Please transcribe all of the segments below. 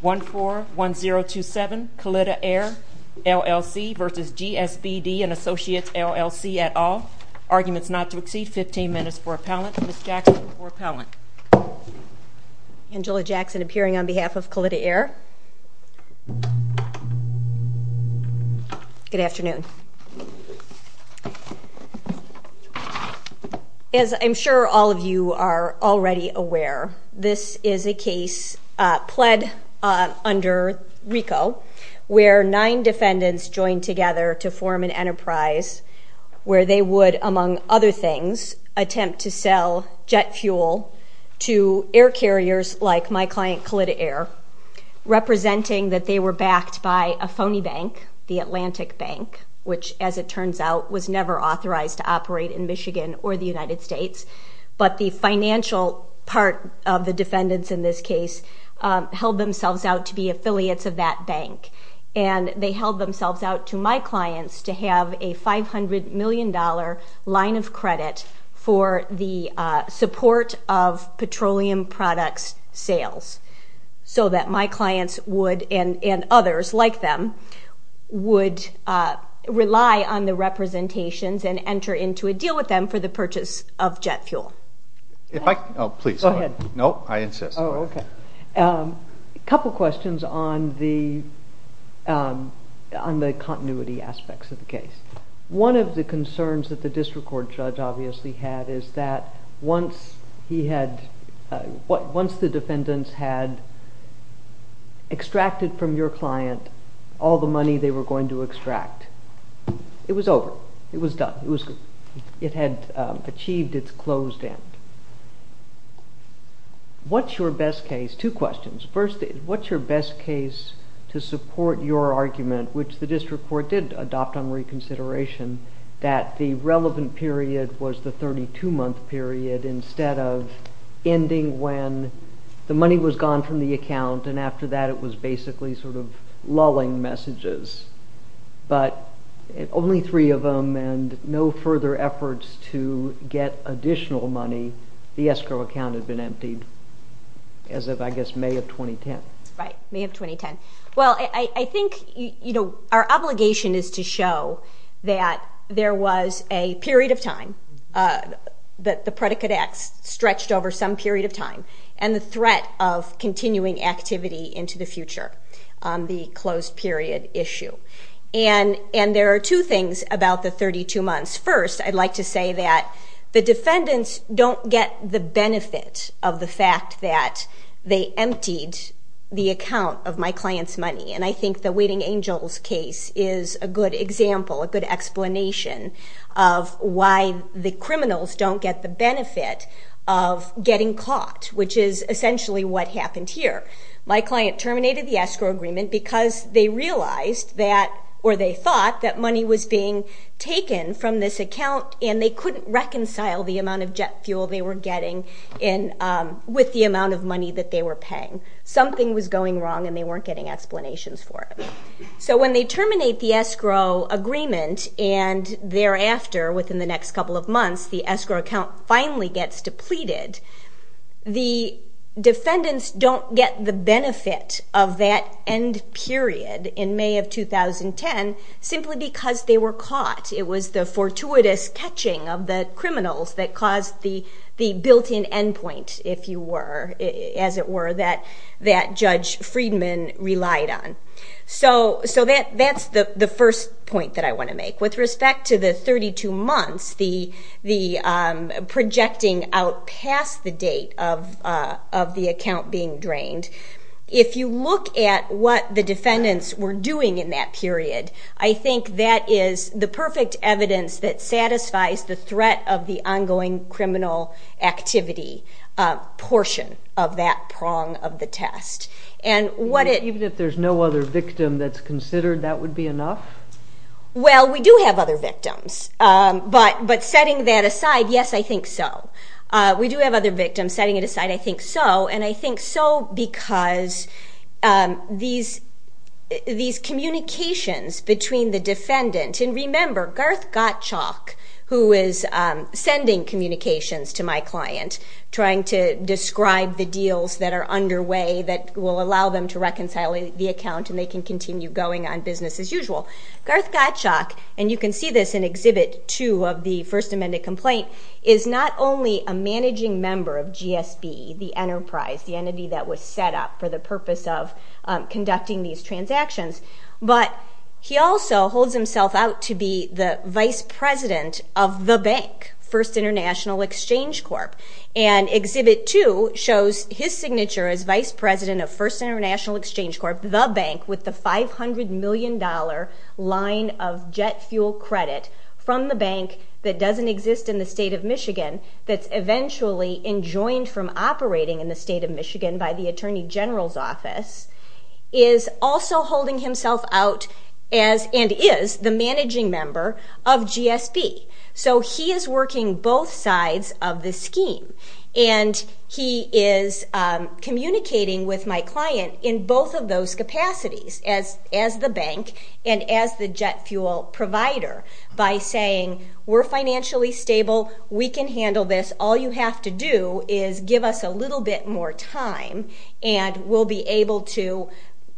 141027 Kalitta Air LLC v. GSBD & Associates LLC et al. Arguments not to exceed 15 minutes for appellant. Ms. Jackson for appellant. Angela Jackson appearing on behalf of Kalitta Air. Good afternoon. As I'm sure all of you are already aware, this is a case pled under RICO where nine defendants joined together to form an enterprise where they would, among other things, attempt to sell jet fuel to air carriers like my client Kalitta Air, representing that they were backed by a phony bank, the Atlantic Bank. Which, as it turns out, was never authorized to operate in Michigan or the United States. But the financial part of the defendants in this case held themselves out to be affiliates of that bank. And they held themselves out to my clients to have a $500 million line of credit for the support of petroleum products sales. So that my clients would, and others like them, would rely on the representations and enter into a deal with them for the purchase of jet fuel. Go ahead. No, I insist. Oh, okay. A couple questions on the continuity aspects of the case. One of the concerns that the district court judge obviously had is that once the defendants had extracted from your client all the money they were going to extract, it was over. It was done. It had achieved its closed end. What's your best case, two questions. First, what's your best case to support your argument, which the district court did adopt on reconsideration, that the relevant period was the 32-month period instead of ending when the money was gone from the account and after that it was basically sort of lulling messages. But only three of them and no further efforts to get additional money, the escrow account had been emptied as of, I guess, May of 2010. Right, May of 2010. Well, I think, you know, our obligation is to show that there was a period of time that the predicate X stretched over some period of time and the threat of continuing activity into the future on the closed period issue. And there are two things about the 32 months. First, I'd like to say that the defendants don't get the benefit of the fact that they emptied the account of my client's money. And I think the Waiting Angels case is a good example, a good explanation of why the criminals don't get the benefit of getting caught, which is essentially what happened here. My client terminated the escrow agreement because they realized that, or they thought, that money was being taken from this account and they couldn't reconcile the amount of jet fuel they were getting with the amount of money that they were paying. Something was going wrong and they weren't getting explanations for it. So when they terminate the escrow agreement and thereafter, within the next couple of months, the escrow account finally gets depleted, the defendants don't get the benefit of that end period in May of 2010 simply because they were caught. It was the fortuitous catching of the criminals that caused the built-in endpoint, if you were, as it were, that Judge Friedman relied on. So that's the first point that I want to make. With respect to the 32 months, the projecting out past the date of the account being drained, if you look at what the defendants were doing in that period, I think that is the perfect evidence that satisfies the threat of the ongoing criminal activity portion of that prong of the test. Even if there's no other victim that's considered, that would be enough? Well, we do have other victims. But setting that aside, yes, I think so. We do have other victims. Setting it aside, I think so. And I think so because these communications between the defendant, and remember, Garth Gottschalk, who is sending communications to my client, trying to describe the deals that are underway that will allow them to reconcile the account and they can continue going on business as usual. Garth Gottschalk, and you can see this in Exhibit 2 of the First Amended Complaint, is not only a managing member of GSB, the enterprise, the entity that was set up for the purpose of conducting these transactions, but he also holds himself out to be the vice president of the bank, First International Exchange Corp. And Exhibit 2 shows his signature as vice president of First International Exchange Corp, the bank with the $500 million line of jet fuel credit from the bank that doesn't exist in the state of Michigan, that's eventually enjoined from operating in the state of Michigan by the Attorney General's office, is also holding himself out and is the managing member of GSB. So he is working both sides of the scheme, and he is communicating with my client in both of those capacities, as the bank and as the jet fuel provider, by saying, we're financially stable, we can handle this, all you have to do is give us a little bit more time and we'll be able to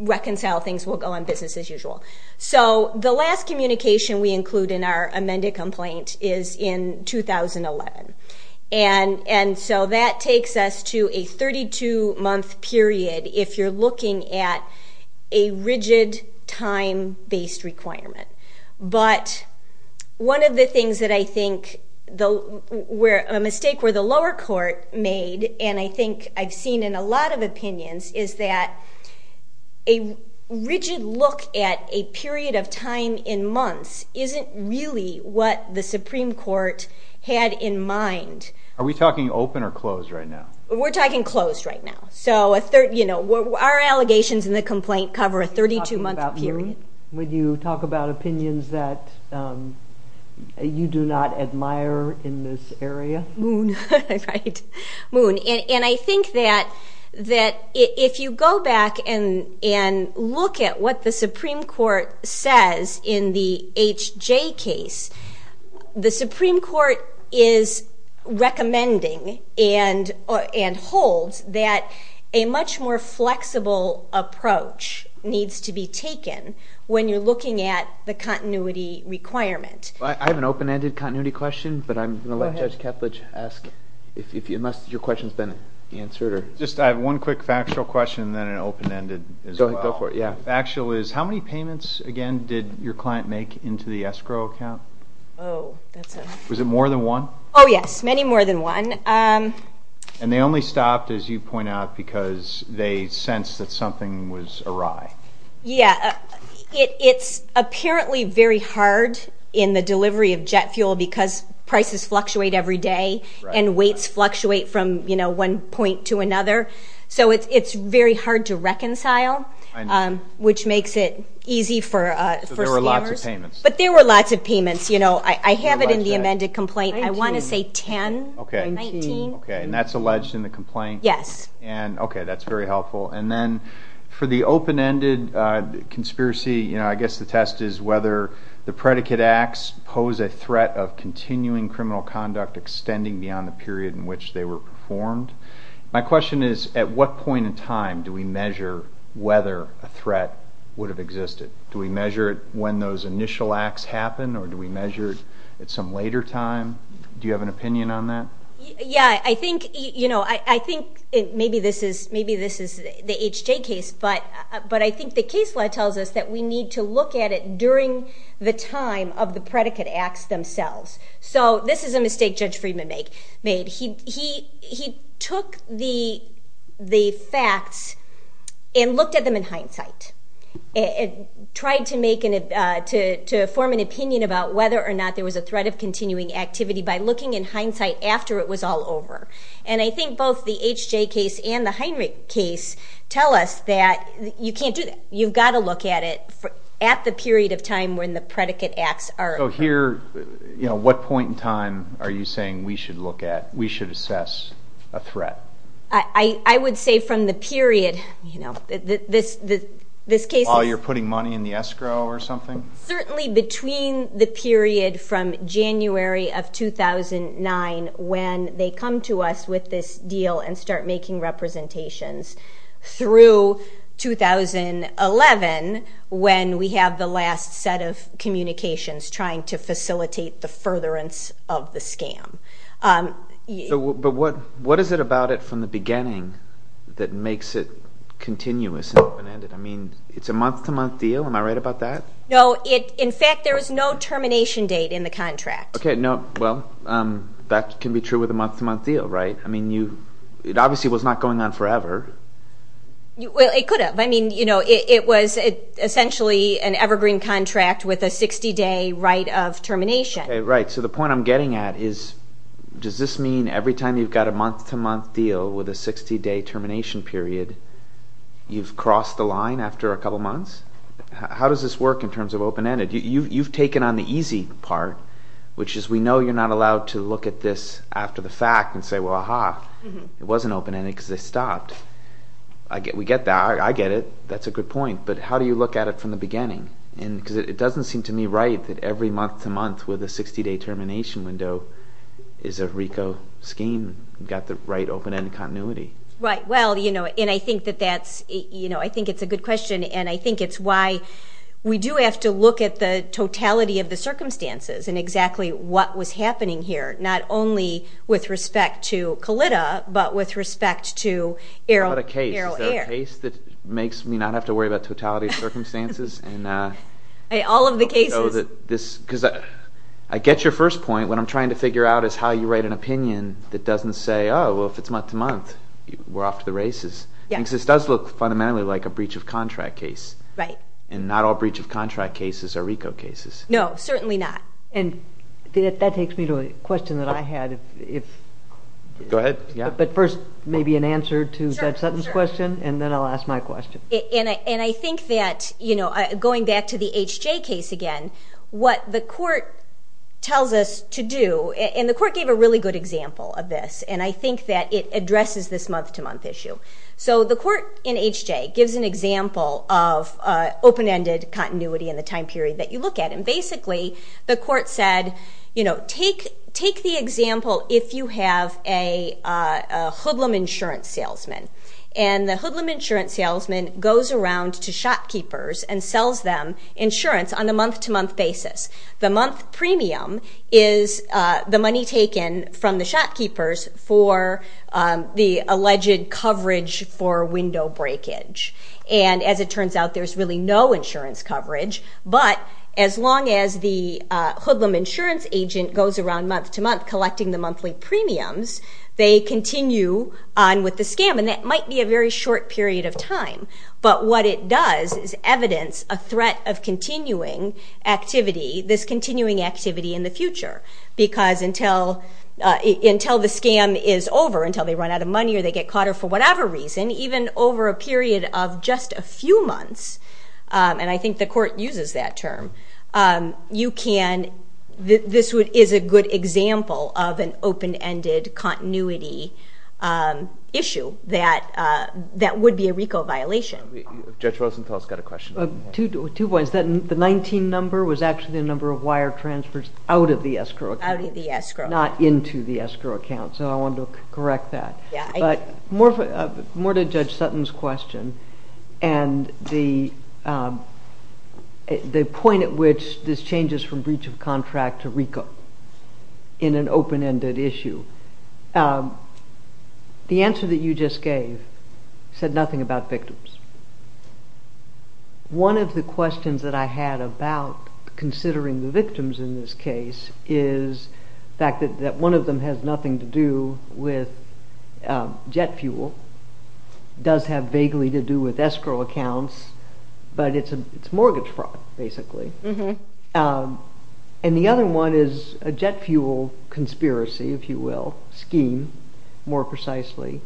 reconcile things, we'll go on business as usual. So the last communication we include in our amended complaint is in 2011. And so that takes us to a 32-month period if you're looking at a rigid time-based requirement. But one of the things that I think, a mistake where the lower court made, and I think I've seen in a lot of opinions, is that a rigid look at a period of time in months isn't really what the Supreme Court had in mind. Are we talking open or closed right now? We're talking closed right now. So our allegations in the complaint cover a 32-month period. Would you talk about opinions that you do not admire in this area? Moon, right. Moon. And I think that if you go back and look at what the Supreme Court says in the H.J. case, the Supreme Court is recommending and holds that a much more flexible approach needs to be taken when you're looking at the continuity requirement. I have an open-ended continuity question, but I'm going to let Judge Ketledge ask it, unless your question has been answered. I have one quick factual question and then an open-ended as well. Go for it. Factual is, how many payments, again, did your client make into the escrow account? Oh, that's a... Was it more than one? Oh, yes, many more than one. And they only stopped, as you point out, because they sensed that something was awry. Yeah, it's apparently very hard in the delivery of jet fuel because prices fluctuate every day and weights fluctuate from one point to another. So it's very hard to reconcile, which makes it easy for scammers. So there were lots of payments. But there were lots of payments. I have it in the amended complaint. I want to say 10 or 19. Okay, and that's alleged in the complaint? Yes. Okay, that's very helpful. And then for the open-ended conspiracy, I guess the test is whether the predicate acts pose a threat of continuing criminal conduct extending beyond the period in which they were performed. My question is, at what point in time do we measure whether a threat would have existed? Do we measure it when those initial acts happen, or do we measure it at some later time? Do you have an opinion on that? Yeah, I think maybe this is the H.J. case, but I think the case law tells us that we need to look at it during the time of the predicate acts themselves. So this is a mistake Judge Friedman made. He took the facts and looked at them in hindsight and tried to form an opinion about whether or not there was a threat of continuing activity by looking in hindsight after it was all over. And I think both the H.J. case and the Heinrich case tell us that you can't do that. You've got to look at it at the period of time when the predicate acts are occurred. So here, what point in time are you saying we should look at, we should assess a threat? I would say from the period. While you're putting money in the escrow or something? Certainly between the period from January of 2009 when they come to us with this deal and start making representations through 2011 when we have the last set of communications trying to facilitate the furtherance of the scam. But what is it about it from the beginning that makes it continuous and open-ended? I mean, it's a month-to-month deal. Am I right about that? No. In fact, there is no termination date in the contract. Okay. Well, that can be true with a month-to-month deal, right? I mean, it obviously was not going on forever. Well, it could have. I mean, it was essentially an evergreen contract with a 60-day right of termination. Right. So the point I'm getting at is does this mean every time you've got a month-to-month deal with a 60-day termination period, you've crossed the line after a couple months? How does this work in terms of open-ended? You've taken on the easy part, which is we know you're not allowed to look at this after the fact and say, well, aha, it wasn't open-ended because they stopped. We get that. I get it. That's a good point. But how do you look at it from the beginning? Because it doesn't seem to me right that every month-to-month with a 60-day termination window is a RICO scheme. You've got the right open-ended continuity. Right. I think it's a good question, and I think it's why we do have to look at the totality of the circumstances and exactly what was happening here, not only with respect to COLLIDA but with respect to Arrow Air. Is there a case that makes me not have to worry about totality of circumstances? All of the cases. I get your first point. What I'm trying to figure out is how you write an opinion that doesn't say, oh, well, if it's month-to-month, we're off to the races. Because this does look fundamentally like a breach-of-contract case. Right. And not all breach-of-contract cases are RICO cases. No, certainly not. That takes me to a question that I had. Go ahead. But first, maybe an answer to Zev Sutton's question, and then I'll ask my question. I think that going back to the H.J. case again, what the court tells us to do, and the court gave a really good example of this, and I think that it addresses this month-to-month issue. So the court in H.J. gives an example of open-ended continuity in the time period that you look at, and basically the court said, take the example if you have a hoodlum insurance salesman, and the hoodlum insurance salesman goes around to shopkeepers and sells them insurance on a month-to-month basis. The month premium is the money taken from the shopkeepers for the alleged coverage for window breakage. And as it turns out, there's really no insurance coverage, but as long as the hoodlum insurance agent goes around month-to-month collecting the monthly premiums, they continue on with the scam, and that might be a very short period of time, but what it does is evidence a threat of continuing activity, this continuing activity in the future, because until the scam is over, until they run out of money or they get caught for whatever reason, even over a period of just a few months, and I think the court uses that term, you can, this is a good example of an open-ended continuity issue that would be a RICO violation. Judge Rosenthal's got a question. Two points. The 19 number was actually the number of wire transfers out of the escrow account. Out of the escrow. Not into the escrow account, so I wanted to correct that. Yeah. More to Judge Sutton's question and the point at which this changes from breach of contract to RICO in an open-ended issue. The answer that you just gave said nothing about victims. One of the questions that I had about considering the victims in this case is the fact that one of them has nothing to do with jet fuel, does have vaguely to do with escrow accounts, but it's mortgage fraud, basically, and the other one is a jet fuel conspiracy, if you will, scheme, more precisely,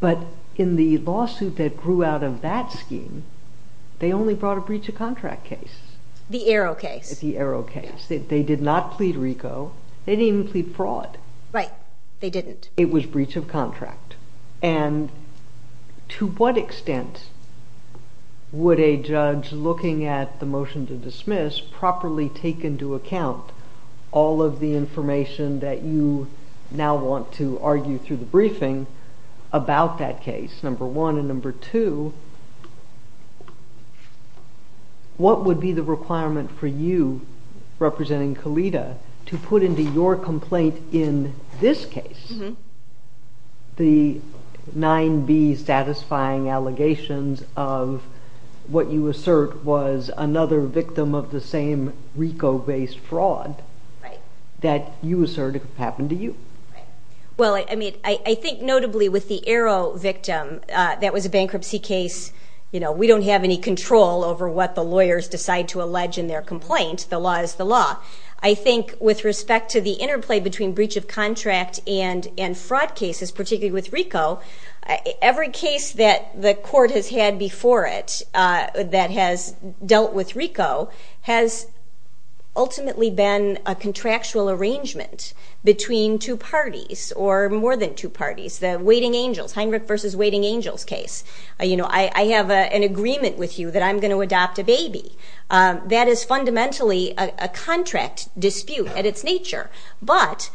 but in the lawsuit that grew out of that scheme, they only brought a breach of contract case. The Arrow case. The Arrow case. They did not plead RICO. They didn't even plead fraud. Right. They didn't. It was breach of contract, and to what extent would a judge looking at the motion to dismiss properly take into account all of the information that you now want to argue through the briefing about that case, number one, and number two, what would be the requirement for you, representing Kalita, to put into your complaint in this case the 9B satisfying allegations of what you assert was another victim of the same RICO-based fraud that you assert happened to you? Well, I mean, I think notably with the Arrow victim, that was a bankruptcy case. You know, we don't have any control over what the lawyers decide to allege in their complaint. The law is the law. I think with respect to the interplay between breach of contract and fraud cases, particularly with RICO, every case that the court has had before it that has dealt with RICO has ultimately been a contractual arrangement between two parties or more than two parties. The Waiting Angels, Heinrich versus Waiting Angels case. You know, I have an agreement with you that I'm going to adopt a baby. That is fundamentally a contract dispute at its nature. But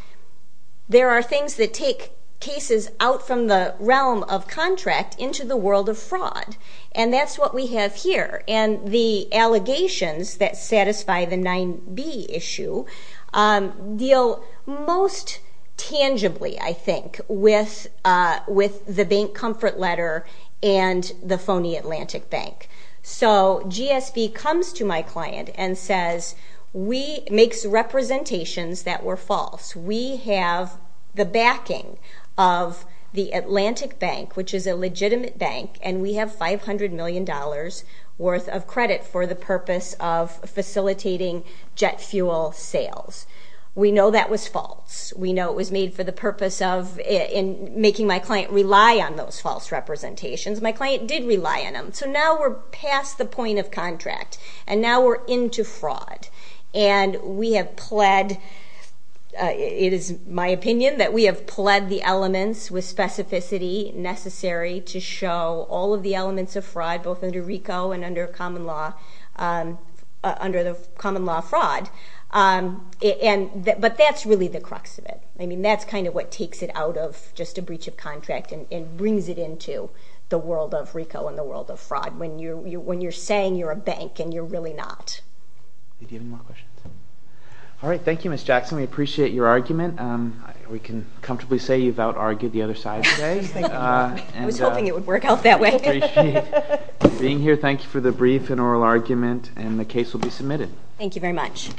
there are things that take cases out from the realm of contract into the world of fraud, and that's what we have here. And the allegations that satisfy the 9B issue deal most tangibly, I think, with the bank comfort letter and the phony Atlantic Bank. So GSB comes to my client and says, makes representations that were false. We have the backing of the Atlantic Bank, which is a legitimate bank, and we have $500 million worth of credit for the purpose of facilitating jet fuel sales. We know that was false. We know it was made for the purpose of making my client rely on those false representations. My client did rely on them. So now we're past the point of contract, and now we're into fraud. And we have pled, it is my opinion, that we have pled the elements with specificity necessary to show all of the elements of fraud both under RICO and under the common law fraud. But that's really the crux of it. I mean, that's kind of what takes it out of just a breach of contract and brings it into the world of RICO and the world of fraud when you're saying you're a bank and you're really not. Do you have any more questions? All right. Thank you, Ms. Jackson. We appreciate your argument. We can comfortably say you've out-argued the other side today. I was hoping it would work out that way. We appreciate you being here. Thank you for the brief and oral argument, and the case will be submitted. Thank you very much.